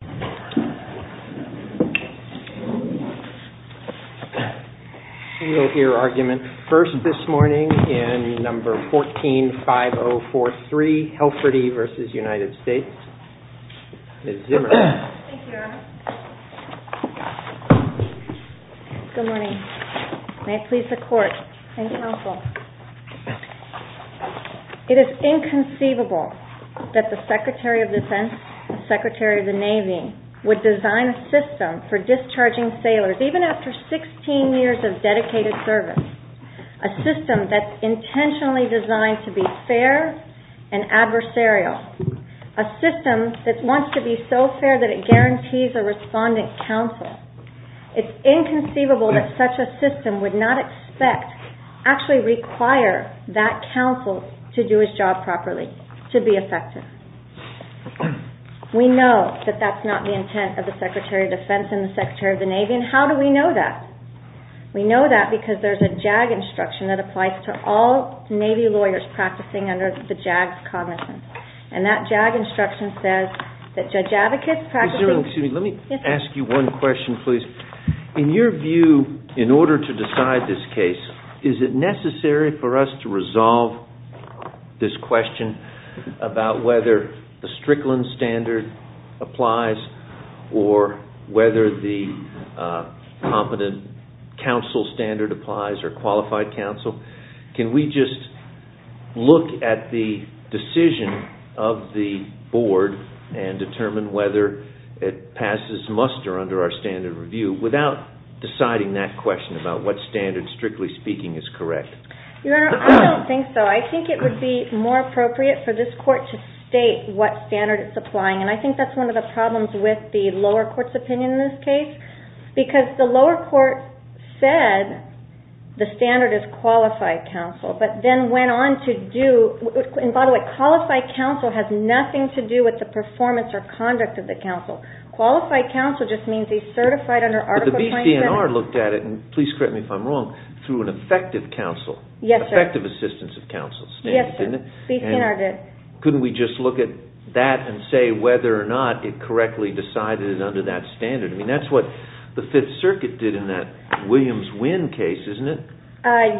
Good morning. May it please the court and counsel, it is inconceivable that the Secretary of Defense, the Secretary of the Navy, would design a system for discharging sailors even after 16 years of dedicated service, a system that's intentionally designed to be fair and adversarial, a system that wants to be so fair that it guarantees a respondent counsel. It's inconceivable that such a system would not expect, actually require, that counsel to do his job properly, to be effective. We know that that's not the intent of the Secretary of Defense and the Secretary of the Navy, and how do we know that? We know that because there's a JAG instruction that applies to all Navy lawyers practicing under the JAG cognizance, and that JAG instruction says that judge advocates practicing... Excuse me, let me ask you one question, please. In your view, in order to decide this case, is it necessary for us to resolve this question about whether the Strickland standard applies or whether the competent counsel standard applies or qualified counsel? Can we just look at the decision of the board and determine whether it passes muster under our standard review without deciding that question about what standard, strictly speaking, is correct? Your Honor, I don't think so. I think it would be more appropriate for this court to state what standard it's applying, and I think that's one of the problems with the lower court's opinion in this case, because the lower court said the standard is qualified counsel, but then went on to do... And by the way, qualified counsel has nothing to do with the performance or conduct of the counsel. Qualified counsel just means he's certified under Article 23. But the BCNR looked at it, and please correct me if I'm wrong, through an effective counsel, effective assistance of counsel standard, didn't it? Yes, sir. BCNR did. Couldn't we just look at that and say whether or not it correctly decided it under that standard? I mean, that's what the Fifth Circuit did in that Williams-Wynn case, isn't it?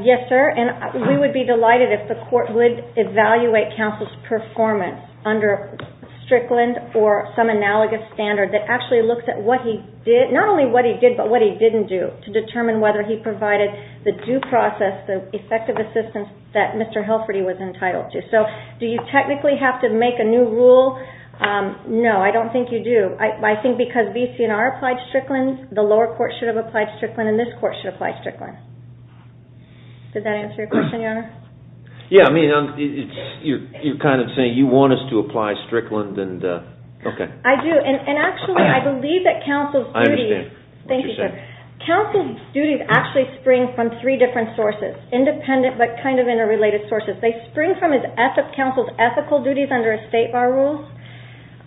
Yes, sir, and we would be delighted if the court would evaluate counsel's performance under Strickland or some analogous standard that actually looks at what he did, not only what he did, but what he didn't do, to determine whether he provided the due process, the effective assistance that Mr. Helferty was entitled to. So, do you technically have to make a new rule? No, I don't think you do. I think because BCNR applied Strickland, the lower court should have applied Strickland, and this court should apply Strickland. Does that answer your question, Your Honor? Yeah, I mean, you're kind of saying you want us to apply Strickland, and, okay. I do, and actually, I believe that counsel's duties, thank you, sir, counsel's duties actually spring from three different sources, independent but kind of interrelated sources. They spring from counsel's ethical duties under a state bar rule.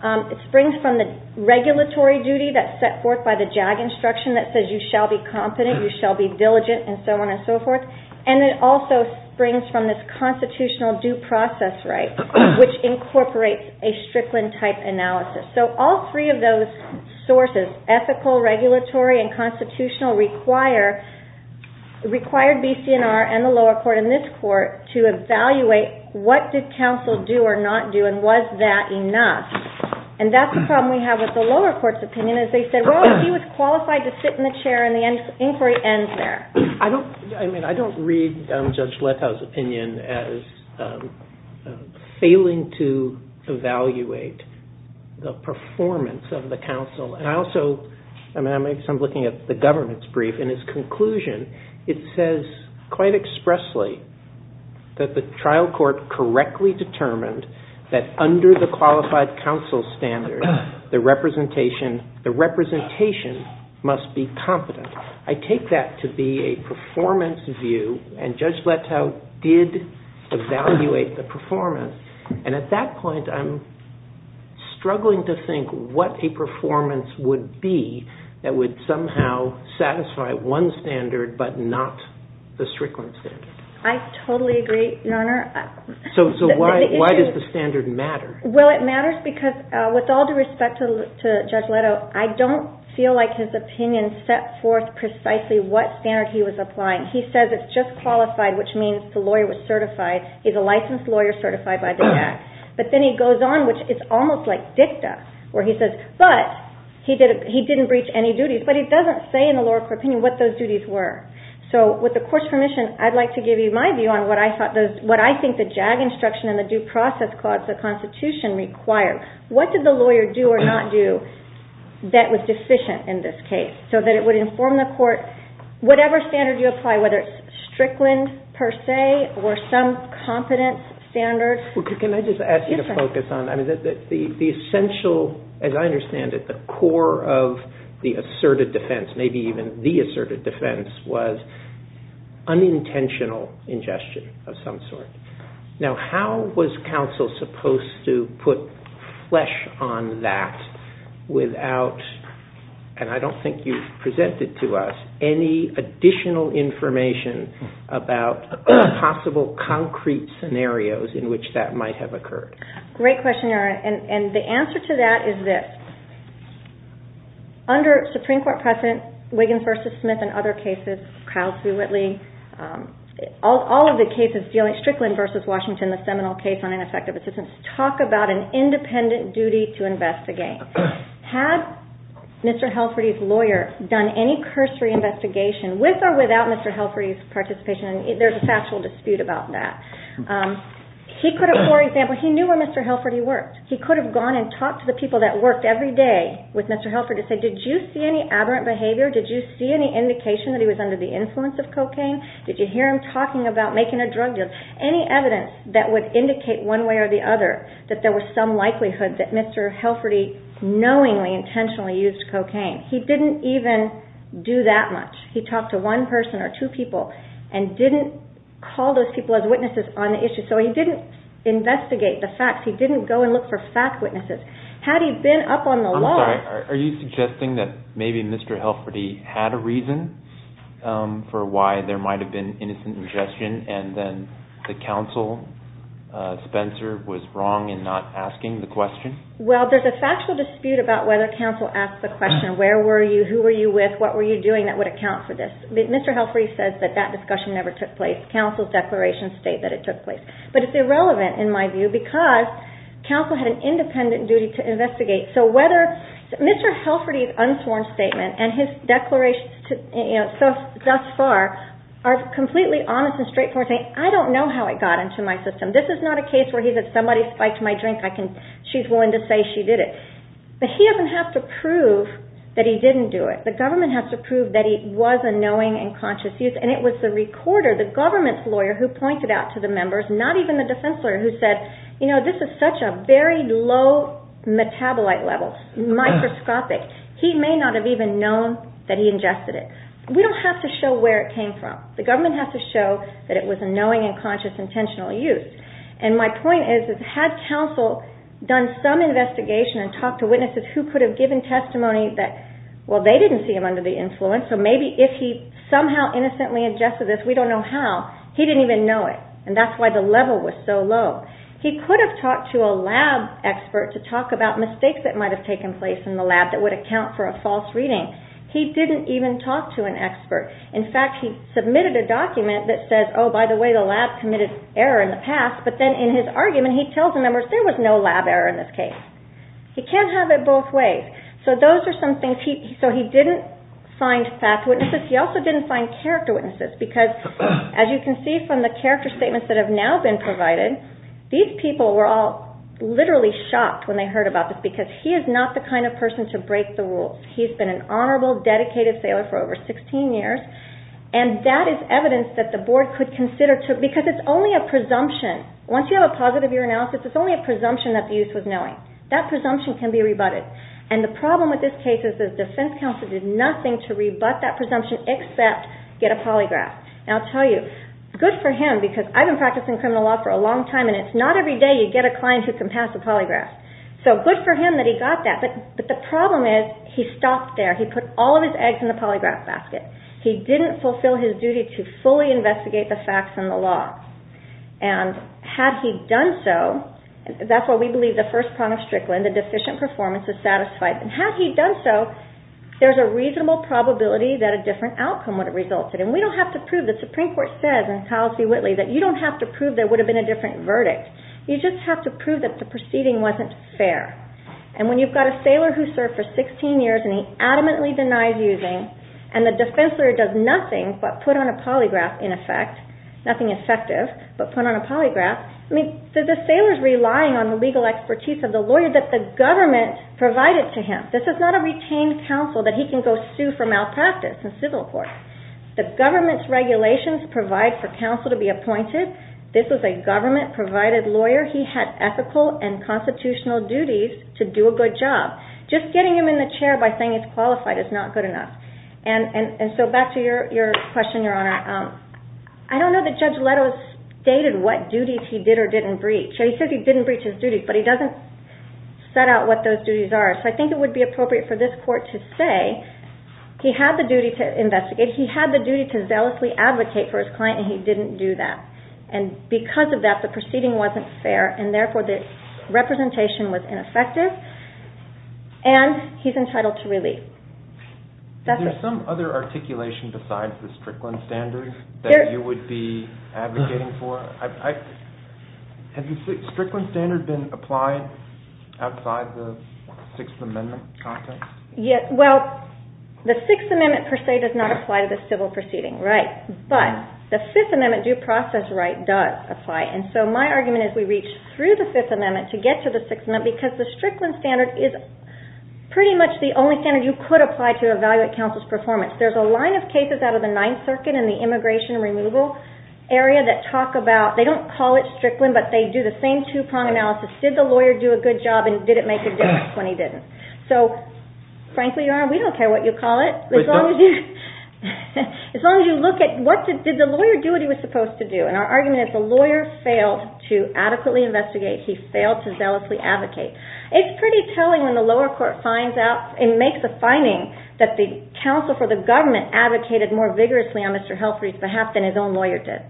It springs from the regulatory duty that's set forth by the JAG instruction that says you shall be competent, you shall be eligible, and it springs from this constitutional due process right, which incorporates a Strickland-type analysis. So, all three of those sources, ethical, regulatory, and constitutional, required BCNR and the lower court and this court to evaluate what did counsel do or not do, and was that enough? And that's the problem we have with the lower court's opinion, is they said, well, he was qualified to sit in the chair, and the inquiry ends there. I don't, I mean, I don't read Judge Letow's opinion as failing to evaluate the performance of the counsel, and I also, I mean, I'm looking at the government's brief, and its conclusion, it says quite expressly that the trial court correctly determined that under the qualified counsel standard, the representation, the representation must be competent. I take that to be a performance view, and Judge Letow did evaluate the performance, and at that point, I'm struggling to think what a performance would be that would somehow satisfy one standard, but not the Strickland standard. I totally agree, Your Honor. So why does the standard matter? Well, it matters because with all due respect to Judge Letow, I don't feel like his opinion set forth precisely what standard he was applying. He says it's just qualified, which means the lawyer was certified. He's a licensed lawyer certified by the JAG. But then he goes on, which is almost like dicta, where he says, but he didn't breach any duties, but he doesn't say in the lower court opinion what those duties were. So with the Court's permission, I'd like to give you my view on what I thought those, what I think the JAG instruction and the due process clause of the Constitution require. What did the lawyer do or not do that was deficient in this case, so that it would inform the Court, whatever standard you apply, whether it's Strickland, per se, or some competence standard? Can I just ask you to focus on, the essential, as I understand it, the core of the asserted defense, maybe even the asserted defense was unintentional ingestion of some sort. Now, how was counsel supposed to put flesh on that without, and I don't think you've presented to us, any additional information about possible concrete scenarios in which that might have occurred? Great question, and the answer to that is this. Under Supreme Court precedent, Wiggins versus Smith and other cases, Crowley v. Whitley, all of the cases dealing with Strickland versus Washington, the seminal case on ineffective assistance, talk about an independent duty to investigate. Had Mr. Helferty's lawyer done any cursory investigation, with or without Mr. Helferty's participation, there's a factual dispute about that. He could have, for example, he knew where Mr. Helferty worked. He could have gone and talked to the people that worked every day with Mr. Helferty to say, did you see any aberrant behavior? Did you see any indication that he was under the influence of cocaine? Did you hear him talking about making a drug deal? Any evidence that would indicate one way or the other that there was some likelihood that Mr. Helferty knowingly, intentionally used cocaine. He didn't even do that much. He talked to one person or two people and didn't call those people as witnesses on the issue, so he didn't investigate the facts. He didn't go and look for fact witnesses. Had he been up on the law… I'm sorry, are you suggesting that maybe Mr. Helferty had a reason for why there might have been innocent ingestion and then the counsel, Spencer, was wrong in not asking the question? Well, there's a factual dispute about whether counsel asked the question, where were you, who were you with, what were you doing that would account for this? Mr. Helferty says that that discussion never took place. Counsel's declarations state that it took place. But it's irrelevant, in my view, because counsel had an independent duty to investigate. So I don't know how it got into my system. This is not a case where somebody spiked my drink, she's willing to say she did it. But he doesn't have to prove that he didn't do it. The government has to prove that he was a knowing and conscious use, and it was the recorder, the government's lawyer, who pointed out to the members, not even the defense lawyer, who said, you know, this is such a very low metabolite level, microscopic. He may not have even known that he ingested it. We don't have to show where it came from. The government has to show that it was a knowing and conscious, intentional use. And my point is that had counsel done some investigation and talked to witnesses who could have given testimony that, well, they didn't see him under the influence, so maybe if he somehow innocently ingested this, we don't know how, he didn't even know it. And that's why the level was so low. He could have talked to a lab expert to talk about mistakes that might have taken place in the lab that would account for a false reading. He didn't even talk to an expert. In fact, he submitted a document that says, oh, by the way, the lab committed error in the past, but then in his argument, he tells the members there was no lab error in this case. He can't have it both ways. So those are some things. So he didn't find fact witnesses. He also didn't find character witnesses, because as you can see from the character statements that have now been provided, these people were all literally shocked when they heard about this, because he is not the kind of person to break the rules. He's been an honorable, dedicated sailor for over 16 years, and that is evidence that the board could consider, because it's only a presumption. Once you have a positive year analysis, it's only a presumption that the youth was knowing. That presumption can be rebutted. And the problem with this case is the defense counsel did nothing to rebut that presumption except get a polygraph. And I'll tell you, good for him, because I've been practicing criminal law for a long time, and it's not every day you get a client who can pass a polygraph. So good for him that he got that, but the problem is he stopped there. He put all of his eggs in the polygraph basket. He didn't fulfill his duty to fully investigate the facts and the law. And had he done so, that's why we believe the first prong of Strickland, the deficient performance, is satisfied. And had he done so, there's a reasonable probability that a different outcome would have resulted. And we don't have to prove, the Supreme Court says in Kyle C. Whitley, that you don't have to prove there would have been a different verdict. You just have to prove that the proceeding wasn't fair. And when you've got a sailor who served for 16 years and he adamantly denies using, and the defense lawyer does nothing but put on a polygraph in effect, nothing effective, but put on a polygraph, the sailor's relying on the legal expertise of the lawyer that the government provided to him. This is not a retained counsel that he can go sue for malpractice in civil court. The government's provided lawyer, he had ethical and constitutional duties to do a good job. Just getting him in the chair by saying he's qualified is not good enough. And so back to your question, Your Honor. I don't know that Judge Leto stated what duties he did or didn't breach. He says he didn't breach his duties, but he doesn't set out what those duties are. So I think it would be appropriate for this court to say, he had the duty to investigate, he had the duty to zealously advocate for his client, and he didn't do that. And because of that, the proceeding wasn't fair, and therefore the representation was ineffective, and he's entitled to relief. Is there some other articulation besides the Strickland standard that you would be advocating for? Has the Strickland standard been applied outside the Sixth Amendment context? Well, the Sixth Amendment per se does not apply to the civil proceeding, right. But the Fifth Amendment due process right does apply. And so my argument is we reach through the Fifth Amendment to get to the Sixth Amendment, because the Strickland standard is pretty much the only standard you could apply to evaluate counsel's performance. There's a line of cases out of the Ninth Circuit in the immigration removal area that talk about, they don't call it Strickland, but they do the same two-prong analysis. Did the lawyer do a good job, and did it make a difference when he didn't? So frankly, Your Honor, we didn't. Did the lawyer do what he was supposed to do? And our argument is the lawyer failed to adequately investigate. He failed to zealously advocate. It's pretty telling when the lower court finds out and makes a finding that the counsel for the government advocated more vigorously on Mr. Helfrich's behalf than his own lawyer did.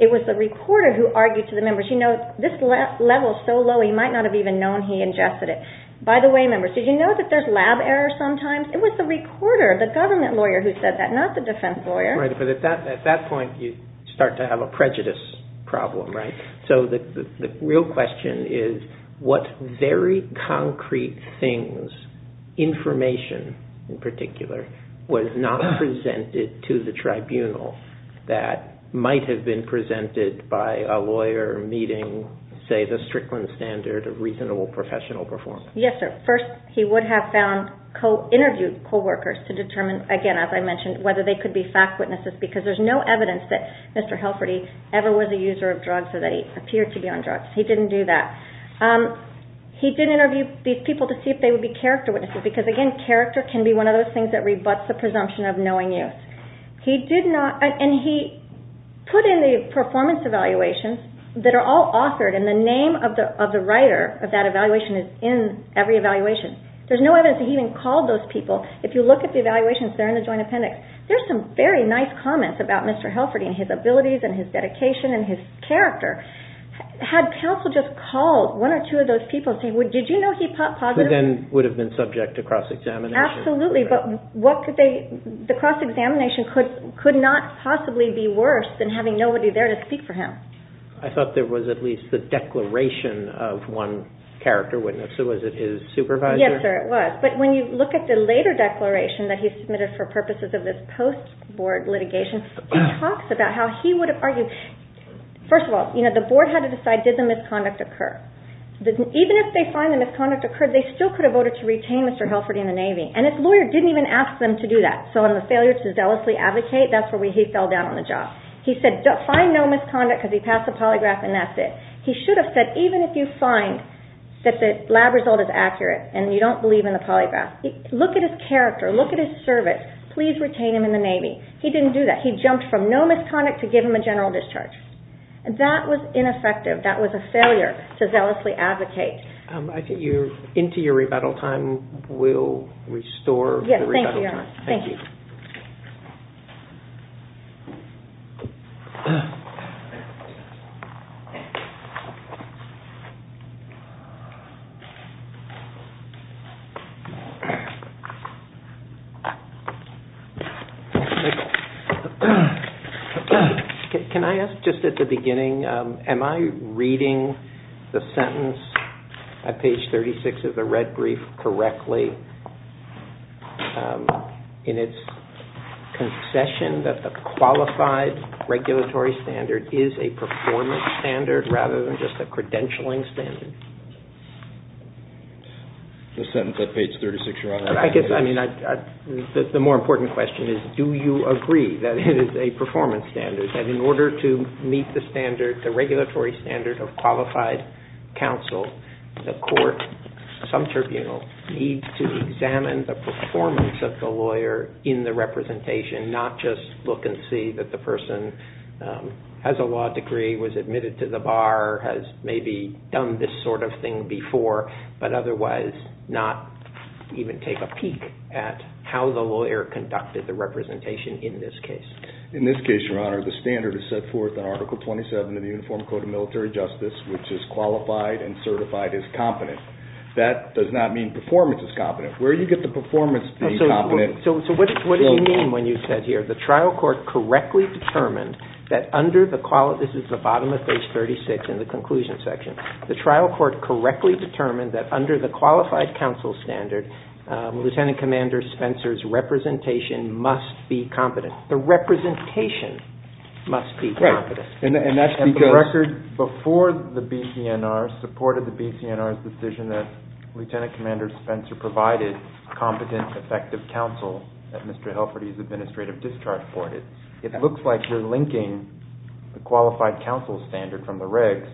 It was the recorder who argued to the members, you know, this level's so low, he might not have even known he ingested it. By the way, members, did you know that there's lab error sometimes? It was the recorder, the government lawyer who said that, not the defense lawyer. Right, but at that point, you start to have a prejudice problem, right? So the real question is what very concrete things, information in particular, was not presented to the tribunal that might have been presented by a lawyer meeting, say, the Strickland standard of reasonable professional performance? Yes, sir. First, he would have found, co-interviewed co-workers to determine, again, as I mentioned, whether they could be fact witnesses because there's no evidence that Mr. Helfrich ever was a user of drugs or that he appeared to be on drugs. He didn't do that. He did interview these people to see if they would be character witnesses because, again, character can be one of those things that rebuts the presumption of knowing youth. He did not, and he put in the performance evaluations that are all authored and the name of the writer of that evaluation is in every evaluation. There's no evidence that he even called those people. If you look at the evaluations, they're in the joint appendix. There's some very nice comments about Mr. Helfrich and his abilities and his dedication and his character. Had counsel just called one or two of those people and said, did you know he positive? Who then would have been subject to cross-examination. Absolutely, but what could they, the cross-examination could not possibly be worse than having nobody there to speak for him. I thought there was at least the declaration of one character witness. Was it his supervisor? Yes, sir, it was, but when you look at the later declaration that he submitted for purposes of this post-board litigation, he talks about how he would have argued, first of all, the board had to decide, did the misconduct occur? Even if they find the misconduct occurred, they still could have voted to retain Mr. Helfrich in the Navy, and his lawyer didn't even ask them to do that, so in the failure to zealously advocate, that's where he fell down on the job. He said, find no misconduct because he passed the polygraph and that's it. He should have said, even if you find that the lab result is accurate and you don't believe in the polygraph, look at his character, look at his service, please retain him in the Navy. He didn't do that. He jumped from no misconduct to give him a general discharge. That was ineffective. That was a failure to zealously advocate. I think you're into your rebuttal time. We'll restore the rebuttal time. Thank you. Can I ask, just at the beginning, am I reading the sentence at page 36 of the red brief correctly in its concession that the qualified regulatory standard is a performance standard rather than just a credentialing standard? The sentence at page 36, Your Honor. The more important question is, do you agree that it is a performance standard, that in order to meet the standard, the regulatory standard of qualified counsel, the court, some tribunal, needs to examine the performance of the lawyer in the representation, not just look and see that the person has a law degree, was admitted to the bar, has maybe done this sort of thing before, but otherwise not even take a peek at how the lawyer conducted the representation in this case? In this case, Your Honor, the standard is set forth in Article 27 of the Uniform Code of Military Justice, which is qualified and certified as competent. That does not mean performance is competent. Where do you get the performance being competent? What do you mean when you said here, the trial court correctly determined that under the quality, this is the bottom of page 36 in the conclusion section, the trial court correctly determined that under the qualified counsel standard, Lieutenant Commander Spencer's representation must be competent. The representation must be competent. Right. And that's because... And the record before the BCNR supported the BCNR's decision that Lieutenant Commander Spencer provided competent, effective counsel at Mr. Helferty's administrative discharge board. It looks like you're linking the qualified counsel standard from the regs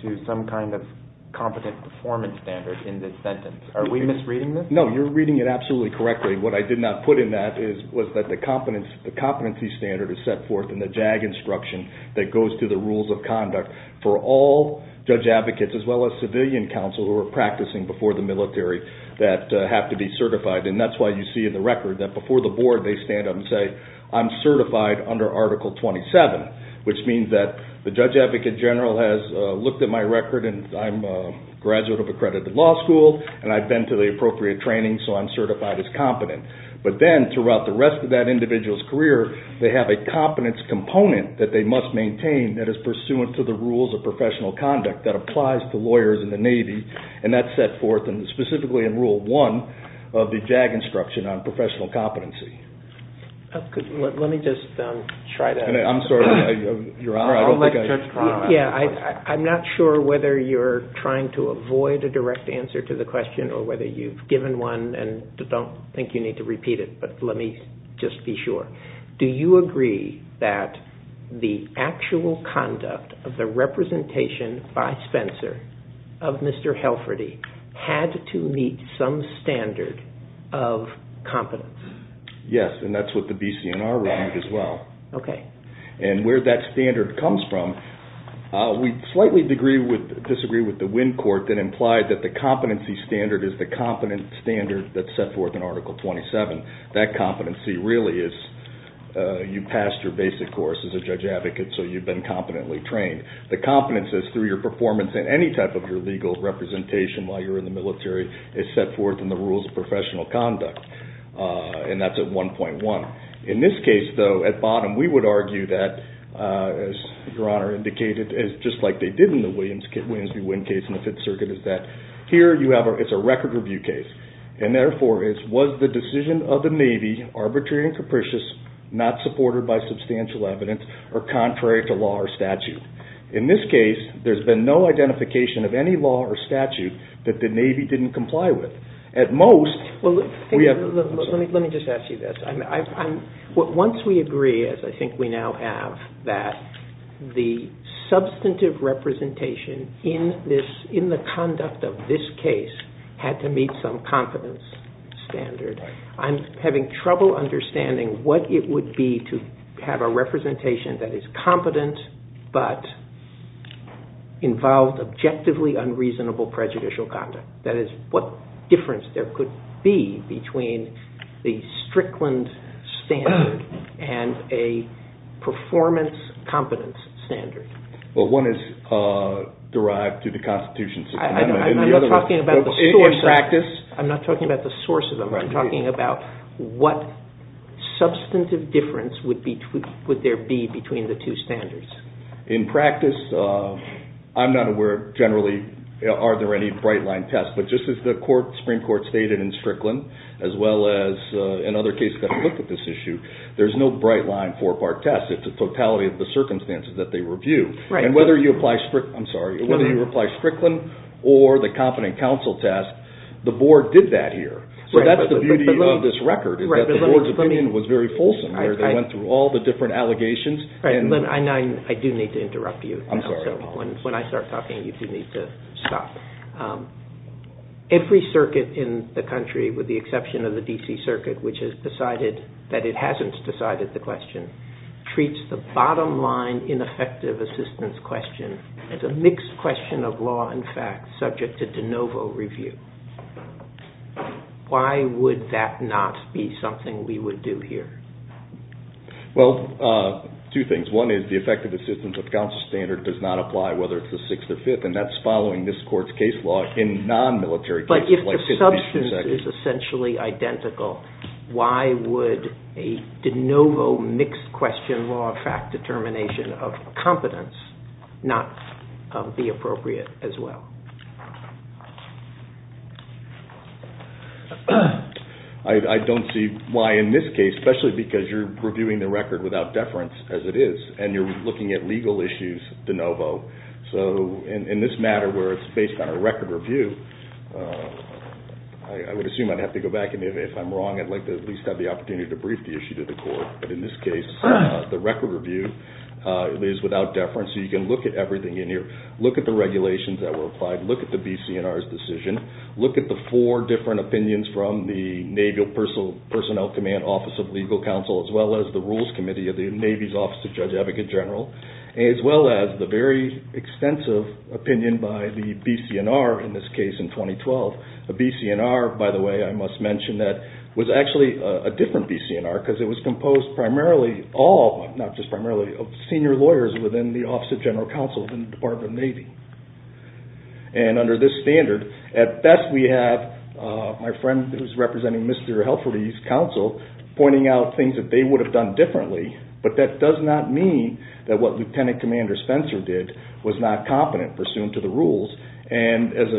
to some kind of competent performance standard in this sentence. Are we misreading this? No, you're reading it absolutely correctly. What I did not put in that was that the competency standard is set forth in the JAG instruction that goes to the rules of conduct for all judge advocates as well as civilian counsel who are practicing before the military that have to be certified. And that's why you see in the record that before the board they stand up and say, I'm certified under Article 27, which means that the judge advocate general has looked at my record and I'm a graduate of accredited law school and I've been to the appropriate training, so I'm certified as competent. But then throughout the rest of that individual's career, they have a competence component that they must maintain that is pursuant to the rules of professional conduct that applies to lawyers in the Navy, and that's set forth specifically in Rule 1 of the JAG instruction on professional competency. Let me just try to... I'm sorry, Your Honor, I don't think I... Yeah, I'm not sure whether you're trying to avoid a direct answer to the question or whether you've given one and don't think you need to repeat it, but let me just be sure. Do you agree that the actual conduct of the representation by Spencer of Mr. Helferty had to meet some standard of competence? Yes, and that's what the BCNR read as well. And where that standard comes from, we slightly disagree with the Winn Court that implied that the competency standard is the competent standard that's set forth in Article 27. That competency really is you passed your basic course as a judge advocate, so you've been competently trained. The competence is through your performance in any type of your legal representation while you're in the military is set forth in the rules of professional conduct, and that's at 1.1. In this case, though, at bottom, we would argue that, as Your Honor indicated, just like they did in the Williams v. Winn case in the Fifth Circuit, is that here you have a record review case, and therefore it was the decision of the Navy, arbitrary and capricious, not supported by substantial evidence, or contrary to law or statute. In this case, there's been no identification of any law or statute that the Navy didn't comply with. At most... Let me just ask you this. Once we agree, as I think we now have, that the substantive representation in the conduct of this case had to meet some competence standard, I'm having trouble understanding what it would be to have a representation that is competent but involved objectively unreasonable prejudicial conduct. That is, what difference there could be between the Strickland standard and a performance competence standard? Well, one is derived to the Constitution system. I'm not talking about the source of them. In practice... I'm not talking about the source of them. I'm talking about what substantive difference would there be between the two standards. In practice, I'm not aware generally are there any bright-line tests, but just as the Supreme Court stated in Strickland, as well as in other cases that have looked at this issue, there's no bright-line four-part test. It's a totality of the circumstances that they review. Whether you apply Strickland or the Competent Counsel test, the Board did that here. That's the beauty of this record, is that the Board's opinion was very fulsome. They went through all the different allegations... I do need to interrupt you. When I start talking, you do need to stop. Every circuit in the country, with the exception of the D.C. Circuit, which has decided that it hasn't decided the question, treats the bottom-line ineffective assistance question as a mixed question of law and fact, subject to de novo review. Why would that not be something we would do here? Well, two things. One is the effective assistance of counsel standard does not apply whether it's the Sixth or Fifth, and that's following this Court's case law in non-military cases like the Fifth Division. If the substance is essentially identical, why would a de novo mixed question law fact determination of competence not be appropriate as well? I don't see why in this case, especially because you're reviewing the record without deference as it is, and you're looking at legal issues de novo. In this matter, where it's based on a record review, I would assume I'd have to go back and if I'm wrong, I'd like to at least have the opportunity to brief the issue to the Court. But in this case, the record review is without deference, so you can look at everything in here. Look at the regulations that were applied. Look at the BC&R's decision. Look at the four different opinions from the Navy Personnel Command Office of Legal Counsel, as well as the Rules Committee of the Navy's Advocate General, as well as the very extensive opinion by the BC&R in this case in 2012. The BC&R, by the way, I must mention that was actually a different BC&R because it was composed primarily, not just primarily, of senior lawyers within the Office of General Counsel in the Department of the Navy. And under this standard, at best we have my friend who's representing Mr. Helfry's counsel pointing out things that they would have done differently, but that does not mean that what Lieutenant Commander Spencer did was not competent pursuant to the rules. And as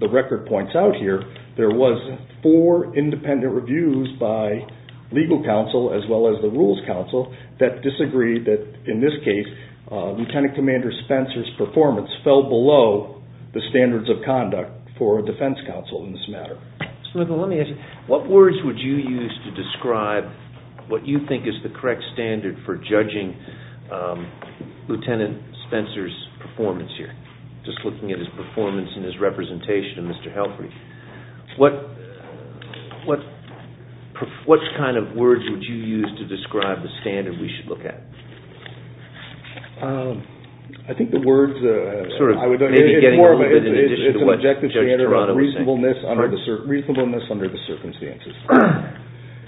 the record points out here, there was four independent reviews by legal counsel as well as the rules counsel that disagreed that, in this case, Lieutenant Commander Spencer's performance fell below the standards of conduct for a defense counsel in this matter. Smith, let me ask you, what words would you use to describe what you think is the correct standard for judging Lieutenant Spencer's performance here? Just looking at his performance and his representation of Mr. Helfry. What kind of words would you use to describe the standard we should look at? I think the words, it's more of an objective standard of reasonableness under the circumstances.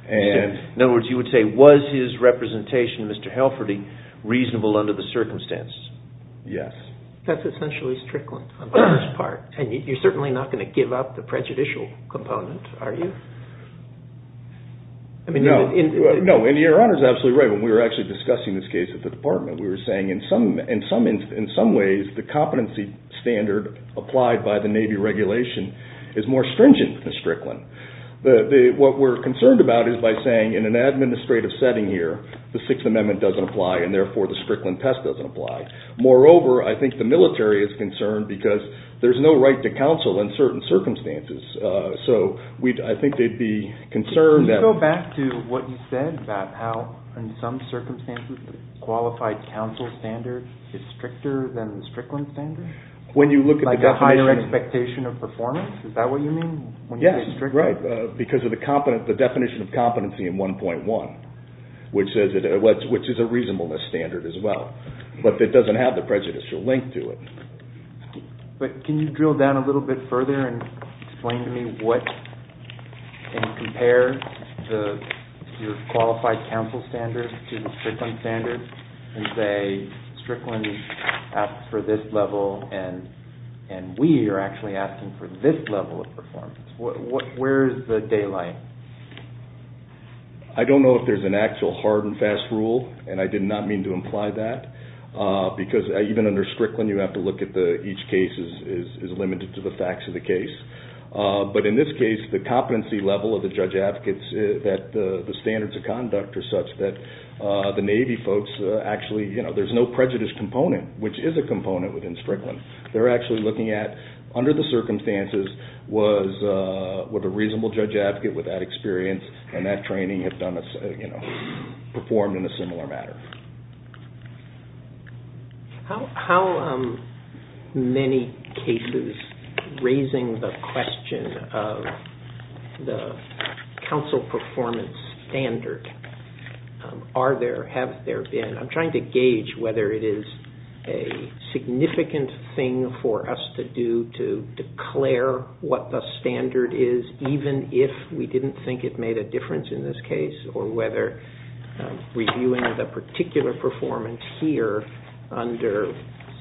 In other words, you would say, was his representation of Mr. Helfry reasonable under the circumstances? Yes. That's essentially strickland on the first part. And you're certainly not going to give up the prejudicial component, are you? No, and your Honor is absolutely right. When we were actually discussing this case at the department, we were saying in some ways the competency standard applied by the Navy regulation is more stringent than the strickland. What we're concerned about is by saying in an administrative setting here, the Sixth Amendment doesn't apply and therefore the strickland test doesn't apply. Moreover, I think the military is concerned because there's no right to counsel in certain circumstances. Can you go back to what you said about how in some circumstances the qualified counsel standard is stricter than the strickland standard? Like a higher expectation of performance? Is that what you mean when you say strickland? Yes, because of the definition of competency in 1.1, which is a reasonableness standard as well. But it doesn't have the prejudicial link to it. But can you drill down a little bit further and explain to me what, and compare your qualified counsel standard to the strickland standard and say strickland asks for this level and we are actually asking for this level of performance. Where is the daylight? I don't know if there's an actual hard and fast rule, and I did not mean to imply that. Because even under strickland, you have to look at each case is limited to the facts of the case. But in this case, the competency level of the judge advocates, that the standards of conduct are such that the Navy folks actually, you know, there's no prejudice component, which is a component within strickland. They're actually looking at under the circumstances was a reasonable judge advocate with that experience and that training performed in a similar manner. How many cases, raising the question of the counsel performance standard, are there, have there been, I'm trying to gauge whether it is a significant thing for us to do to declare what the standard is, even if we didn't think it made a difference in this case, or whether reviewing the particular performance here under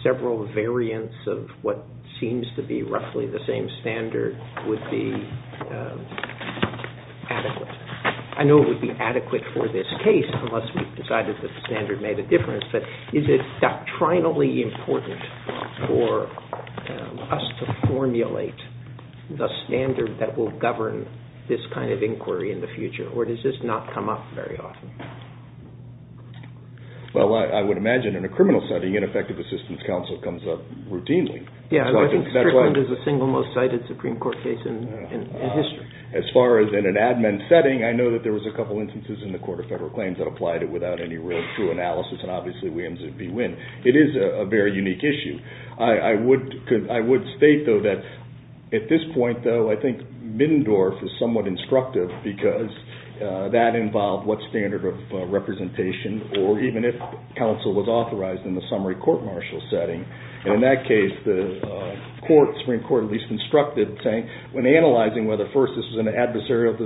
several variants of what seems to be roughly the same standard would be adequate. I know it would be adequate for this case unless we decided that the standard made a difference, but is it doctrinally important for us to formulate the standard that will govern this kind of inquiry in the future or does this not come up very often? Well I would imagine in a criminal setting an effective assistance counsel comes up routinely. Yeah, I think Strickland is the single most cited Supreme Court case in history. As far as in an admin setting, I know that there was a couple instances in the Court of Federal Claims that applied it without any real true analysis, and obviously Williams and Bewin. It is a very unique issue. I would state, though, that at this point, though, I think Middendorf is somewhat instructive because that involved what standard of representation or even if counsel was authorized in the summary court-martial setting. In that case, the Supreme Court at least constructed saying, when analyzing whether first this was an adversarial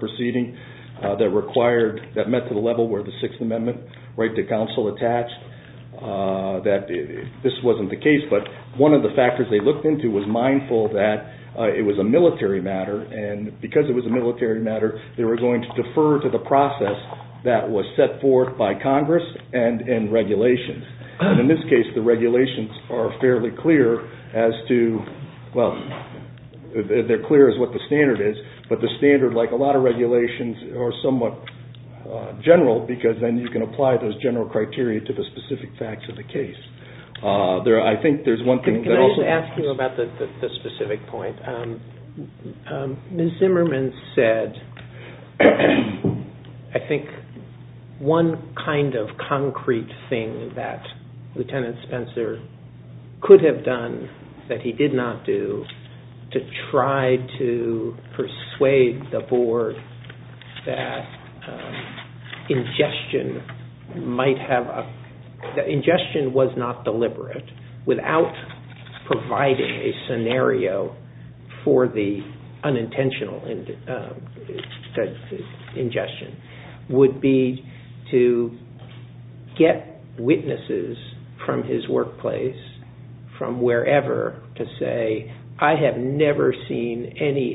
proceeding that met to the level where the Sixth Amendment right to counsel attached, that this wasn't the case, but one of the factors they looked into was mindful that it was a military matter and because it was a military matter, they were going to defer to the process that was set forth by Congress and regulations. In this case, the regulations are fairly clear as to, well, they're clear as to what the standard is, but the standard, like a lot of regulations, are somewhat general because then you can apply those general criteria to the specific facts of the case. I think there's one thing that also... Can I just ask you about the specific point? Ms. Zimmerman said, I think, one kind of concrete thing that Lieutenant Spencer could have done that he did not do to try to persuade the The ingestion was not deliberate without providing a scenario for the unintentional ingestion would be to get witnesses from his workplace, from wherever, to say, I have never seen any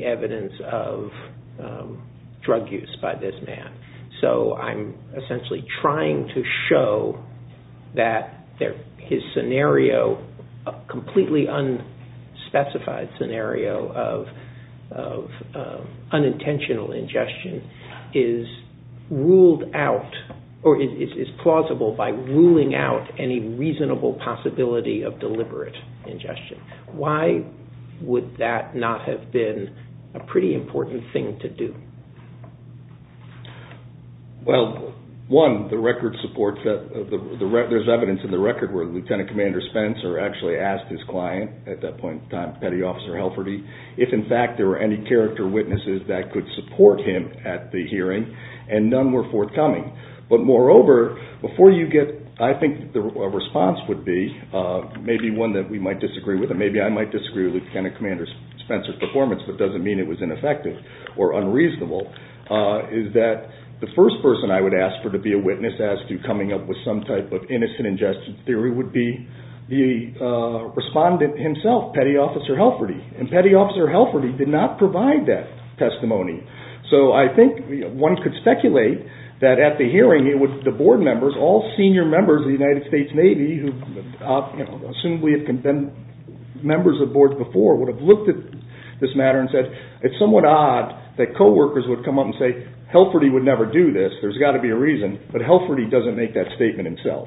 that his scenario, completely unspecified scenario of unintentional ingestion is ruled out or is plausible by ruling out any reasonable possibility of deliberate ingestion. Why would that not have been a pretty important thing to do? Well, one, there's evidence in the record where Lieutenant Commander Spencer actually asked his client, at that point in time, Petty Officer Helferdy, if in fact there were any character witnesses that could support him at the hearing, and none were forthcoming. But moreover, before you get... I think the response would be, maybe one that we might disagree with, and maybe I might disagree with Lieutenant Commander Spencer's performance, but it doesn't mean it was ineffective or unreasonable, is that the first person I would ask for to be a witness as to coming up with some type of innocent ingestion theory would be the respondent himself, Petty Officer Helferdy. And Petty Officer Helferdy did not provide that testimony. So I think one could speculate that at the hearing, the board members, all senior members of the United States Navy, who, assumably, have been members of boards before, would have looked at this matter and said, it's somewhat odd that co-workers would come up and say, Helferdy would never do this, there's got to be a reason, but Helferdy doesn't make that statement himself.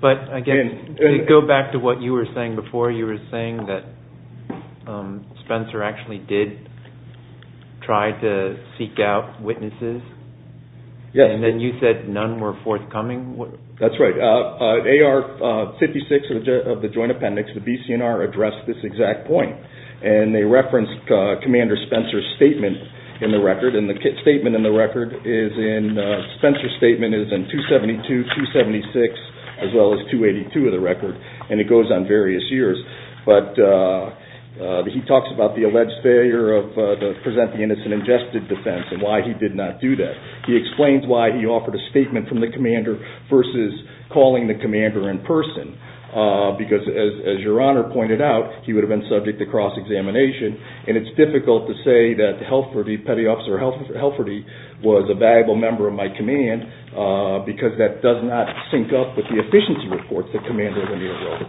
But again, to go back to what you were saying before, you were saying that Spencer actually did try to seek out witnesses, and then you said none were forthcoming? That's right. AR-56 of the Joint Appendix, the BCNR, addressed this exact point, and they referenced Commander Spencer's statement in the record, and the statement in the record is in, Spencer's statement is in 272, 276, as well as 282 of the record, and it goes on various years. But he talks about the alleged failure of the present the innocent ingested defense and why he did not do that. He explains why he offered a statement from the Commander versus calling the Commander in person, because, as your Honor pointed out, he would have been subject to cross-examination, and it's difficult to say that Helferdy, Petty Officer Helferdy, was a valuable member of my command, because that does not sync up with the efficiency reports that Commander Wendy enrolled in.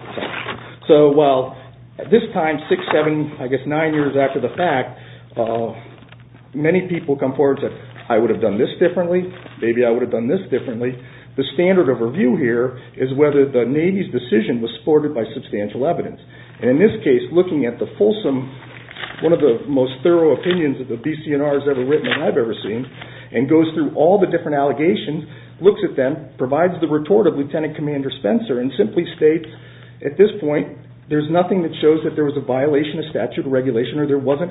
So while, at this time, six, seven, I guess nine years after the fact, many people come forward and say, I would have done this differently, maybe I would have done this differently. The standard of review here is whether the Navy's decision was supported by substantial evidence. And in this case, looking at the fulsome, one of the most thorough opinions that the BCNR has ever written and I've ever seen, and goes through all the different allegations, looks at them, provides the report of Lieutenant Commander Spencer, and simply states, at this point, there's nothing that shows that there was a violation of statute or regulation or there wasn't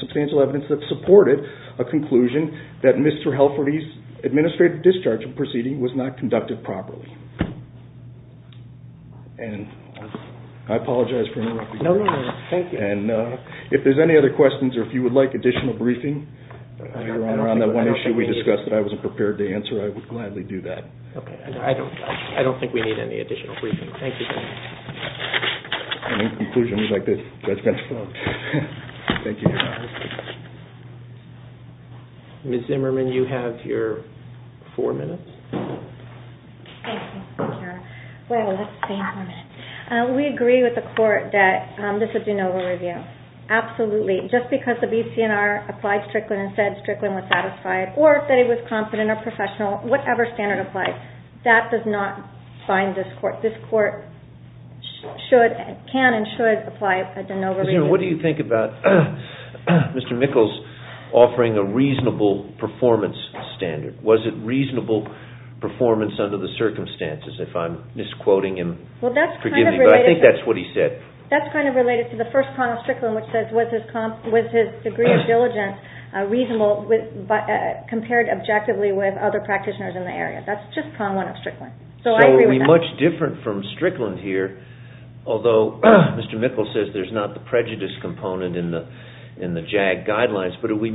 substantial evidence that supported a conclusion that Mr. Helferdy's administrative discharge of the proceeding was not conducted properly. And I apologize for interrupting. No, no, no. Thank you. And if there's any other questions or if you would like additional briefing around that one issue we discussed that I wasn't prepared to answer, I would gladly do that. Okay. I don't think we need any additional briefing. Thank you, sir. Any conclusions you'd like to add, Mr. Spencer? No. Thank you. Ms. Zimmerman, you have your four minutes. Thank you, Mr. Chairman. Well, let's see. We agree with the court that this is a de novo review. Absolutely. Just because the BCNR applied Strickland and said Strickland was satisfied or that it was confident or professional, whatever standard applies, that does not bind this court. This court should and can and should apply a de novo review. Ms. Zimmerman, what do you think about Mr. Mickles offering a reasonable performance standard? Was it reasonable performance under the circumstances, if I'm misquoting him? Forgive me, but I think that's what he said. That's kind of related to the first prong of Strickland, which says, was his degree of diligence reasonable compared objectively with other practitioners in the area? That's just prong one of Strickland. So I agree with that. But are we much different from Strickland here, although Mr. Mickles says there's not the prejudice component in the JAG guidelines, but are we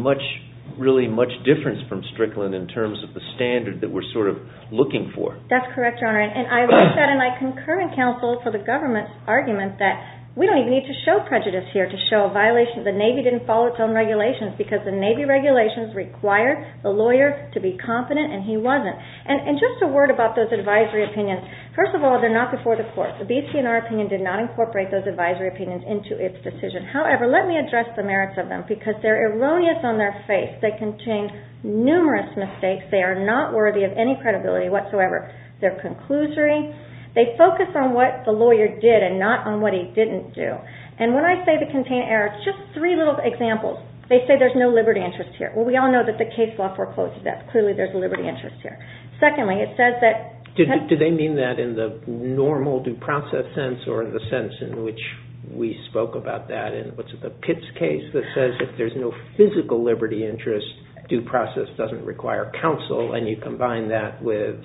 really much different from Strickland in terms of the standard that we're sort of looking for? That's correct, Your Honor. And I wrote that in my concurrent counsel for the government argument that we don't even need to show prejudice here to show a violation. The Navy didn't follow its own regulations because the Navy regulations required the lawyer to be competent, and he wasn't. And just a word about those advisory opinions. First of all, they're not before the court. The BCNR opinion did not incorporate those advisory opinions into its decision. However, let me address the merits of them because they're erroneous on their face. They contain numerous mistakes. They are not worthy of any credibility whatsoever. They're conclusory. They focus on what the lawyer did and not on what he didn't do. And when I say they contain errors, just three little examples. They say there's no liberty interest here. Well, we all know that the case law forecloses that. Clearly, there's a liberty interest here. Secondly, it says that... Do they mean that in the normal due process sense or in the sense in which we spoke about that in the Pitts case that says if there's no physical liberty interest, due process doesn't require counsel? And you combine that with,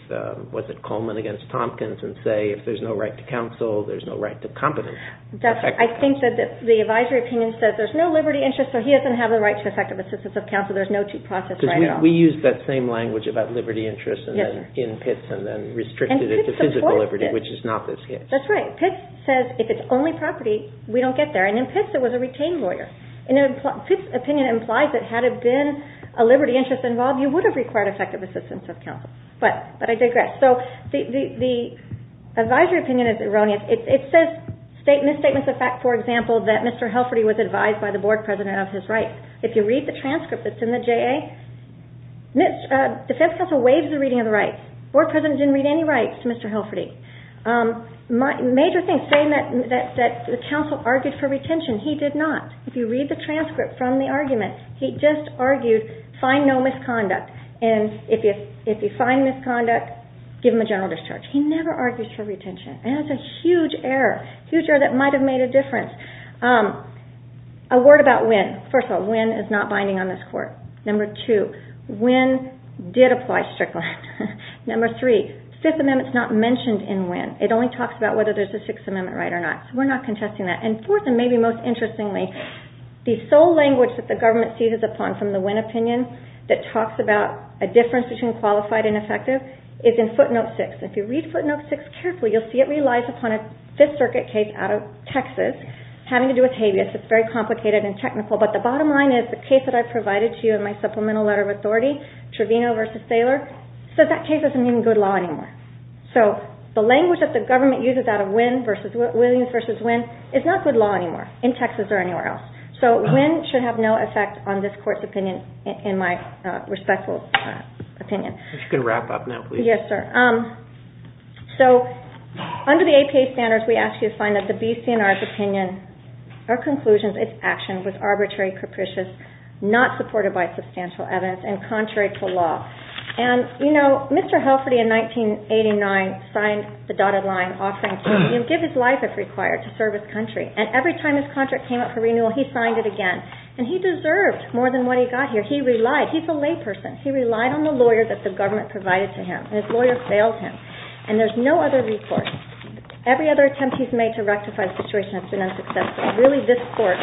was it Coleman against Tompkins, and say if there's no right to counsel, there's no right to competence? I think that the advisory opinion says there's no liberty interest, so he doesn't have the right to effective assistance of counsel. There's no due process right at all. Because we used that same language about liberty interest in Pitts and then restricted it to physical liberty, which is not the case. That's right. Pitts says if it's only property, we don't get there. And in Pitts, it was a retained lawyer. And in Pitts' opinion, it implies that had it been a liberty interest involved, you would have required effective assistance of counsel. But I digress. So the advisory opinion is erroneous. It says misstatements of fact, for example, that Mr. Hilferty, if you read the transcript that's in the JA, the defense counsel waives the reading of the rights. The board president didn't read any rights to Mr. Hilferty. The major thing is saying that the counsel argued for retention. He did not. If you read the transcript from the argument, he just argued find no misconduct. And if you find misconduct, give him a general discharge. He never argues for retention. And that's a huge error, a huge error that might have made a difference. A word about Wynne. First of all, Wynne is not binding on this court. Number two, Wynne did apply Strickland. Number three, Fifth Amendment is not mentioned in Wynne. It only talks about whether there's a Sixth Amendment right or not. So we're not contesting that. And fourth, and maybe most interestingly, the sole language that the government cedes upon from the Wynne opinion that talks about a difference between qualified and effective is in footnote six. If you read footnote six carefully, you'll see it relies upon a Fifth Circuit case out of Texas having to do with habeas. It's very complicated and technical. But the bottom line is the case that I provided to you in my supplemental letter of authority, Trevino v. Thaler, says that case doesn't need good law anymore. So the language that the government uses out of Wynne versus Williams versus Wynne is not good law anymore in Texas or anywhere else. So Wynne should have no effect on this court's opinion, in my respectful opinion. If you could wrap up now, please. Yes, sir. So under the APA standards, we ask you to find that the BCNR's opinion or conclusions, its action was arbitrary, capricious, not supported by substantial evidence and contrary to law. And you know, Mr. Helferty in 1989 signed the dotted line offering to give his life if required to serve his country. And every time his contract came up for renewal, he signed it again. And he deserved more than what he got here. He relied. He's a layperson. He relied on the lawyer that the government provided to him. And his lawyer failed him. And there's no other recourse. Every other attempt he's made to rectify the situation has been unsuccessful. Really, this court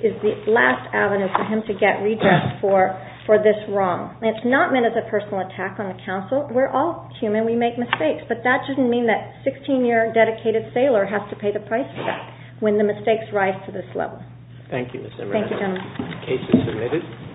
is the last avenue for him to get redress for this wrong. And it's not meant as a personal attack on the counsel. We're all human. We make mistakes. But that doesn't mean that a 16-year dedicated Thaler has to pay the price for that when the mistakes rise to this level. Thank you, Ms. Emmer. Thank you, gentlemen. The case is submitted.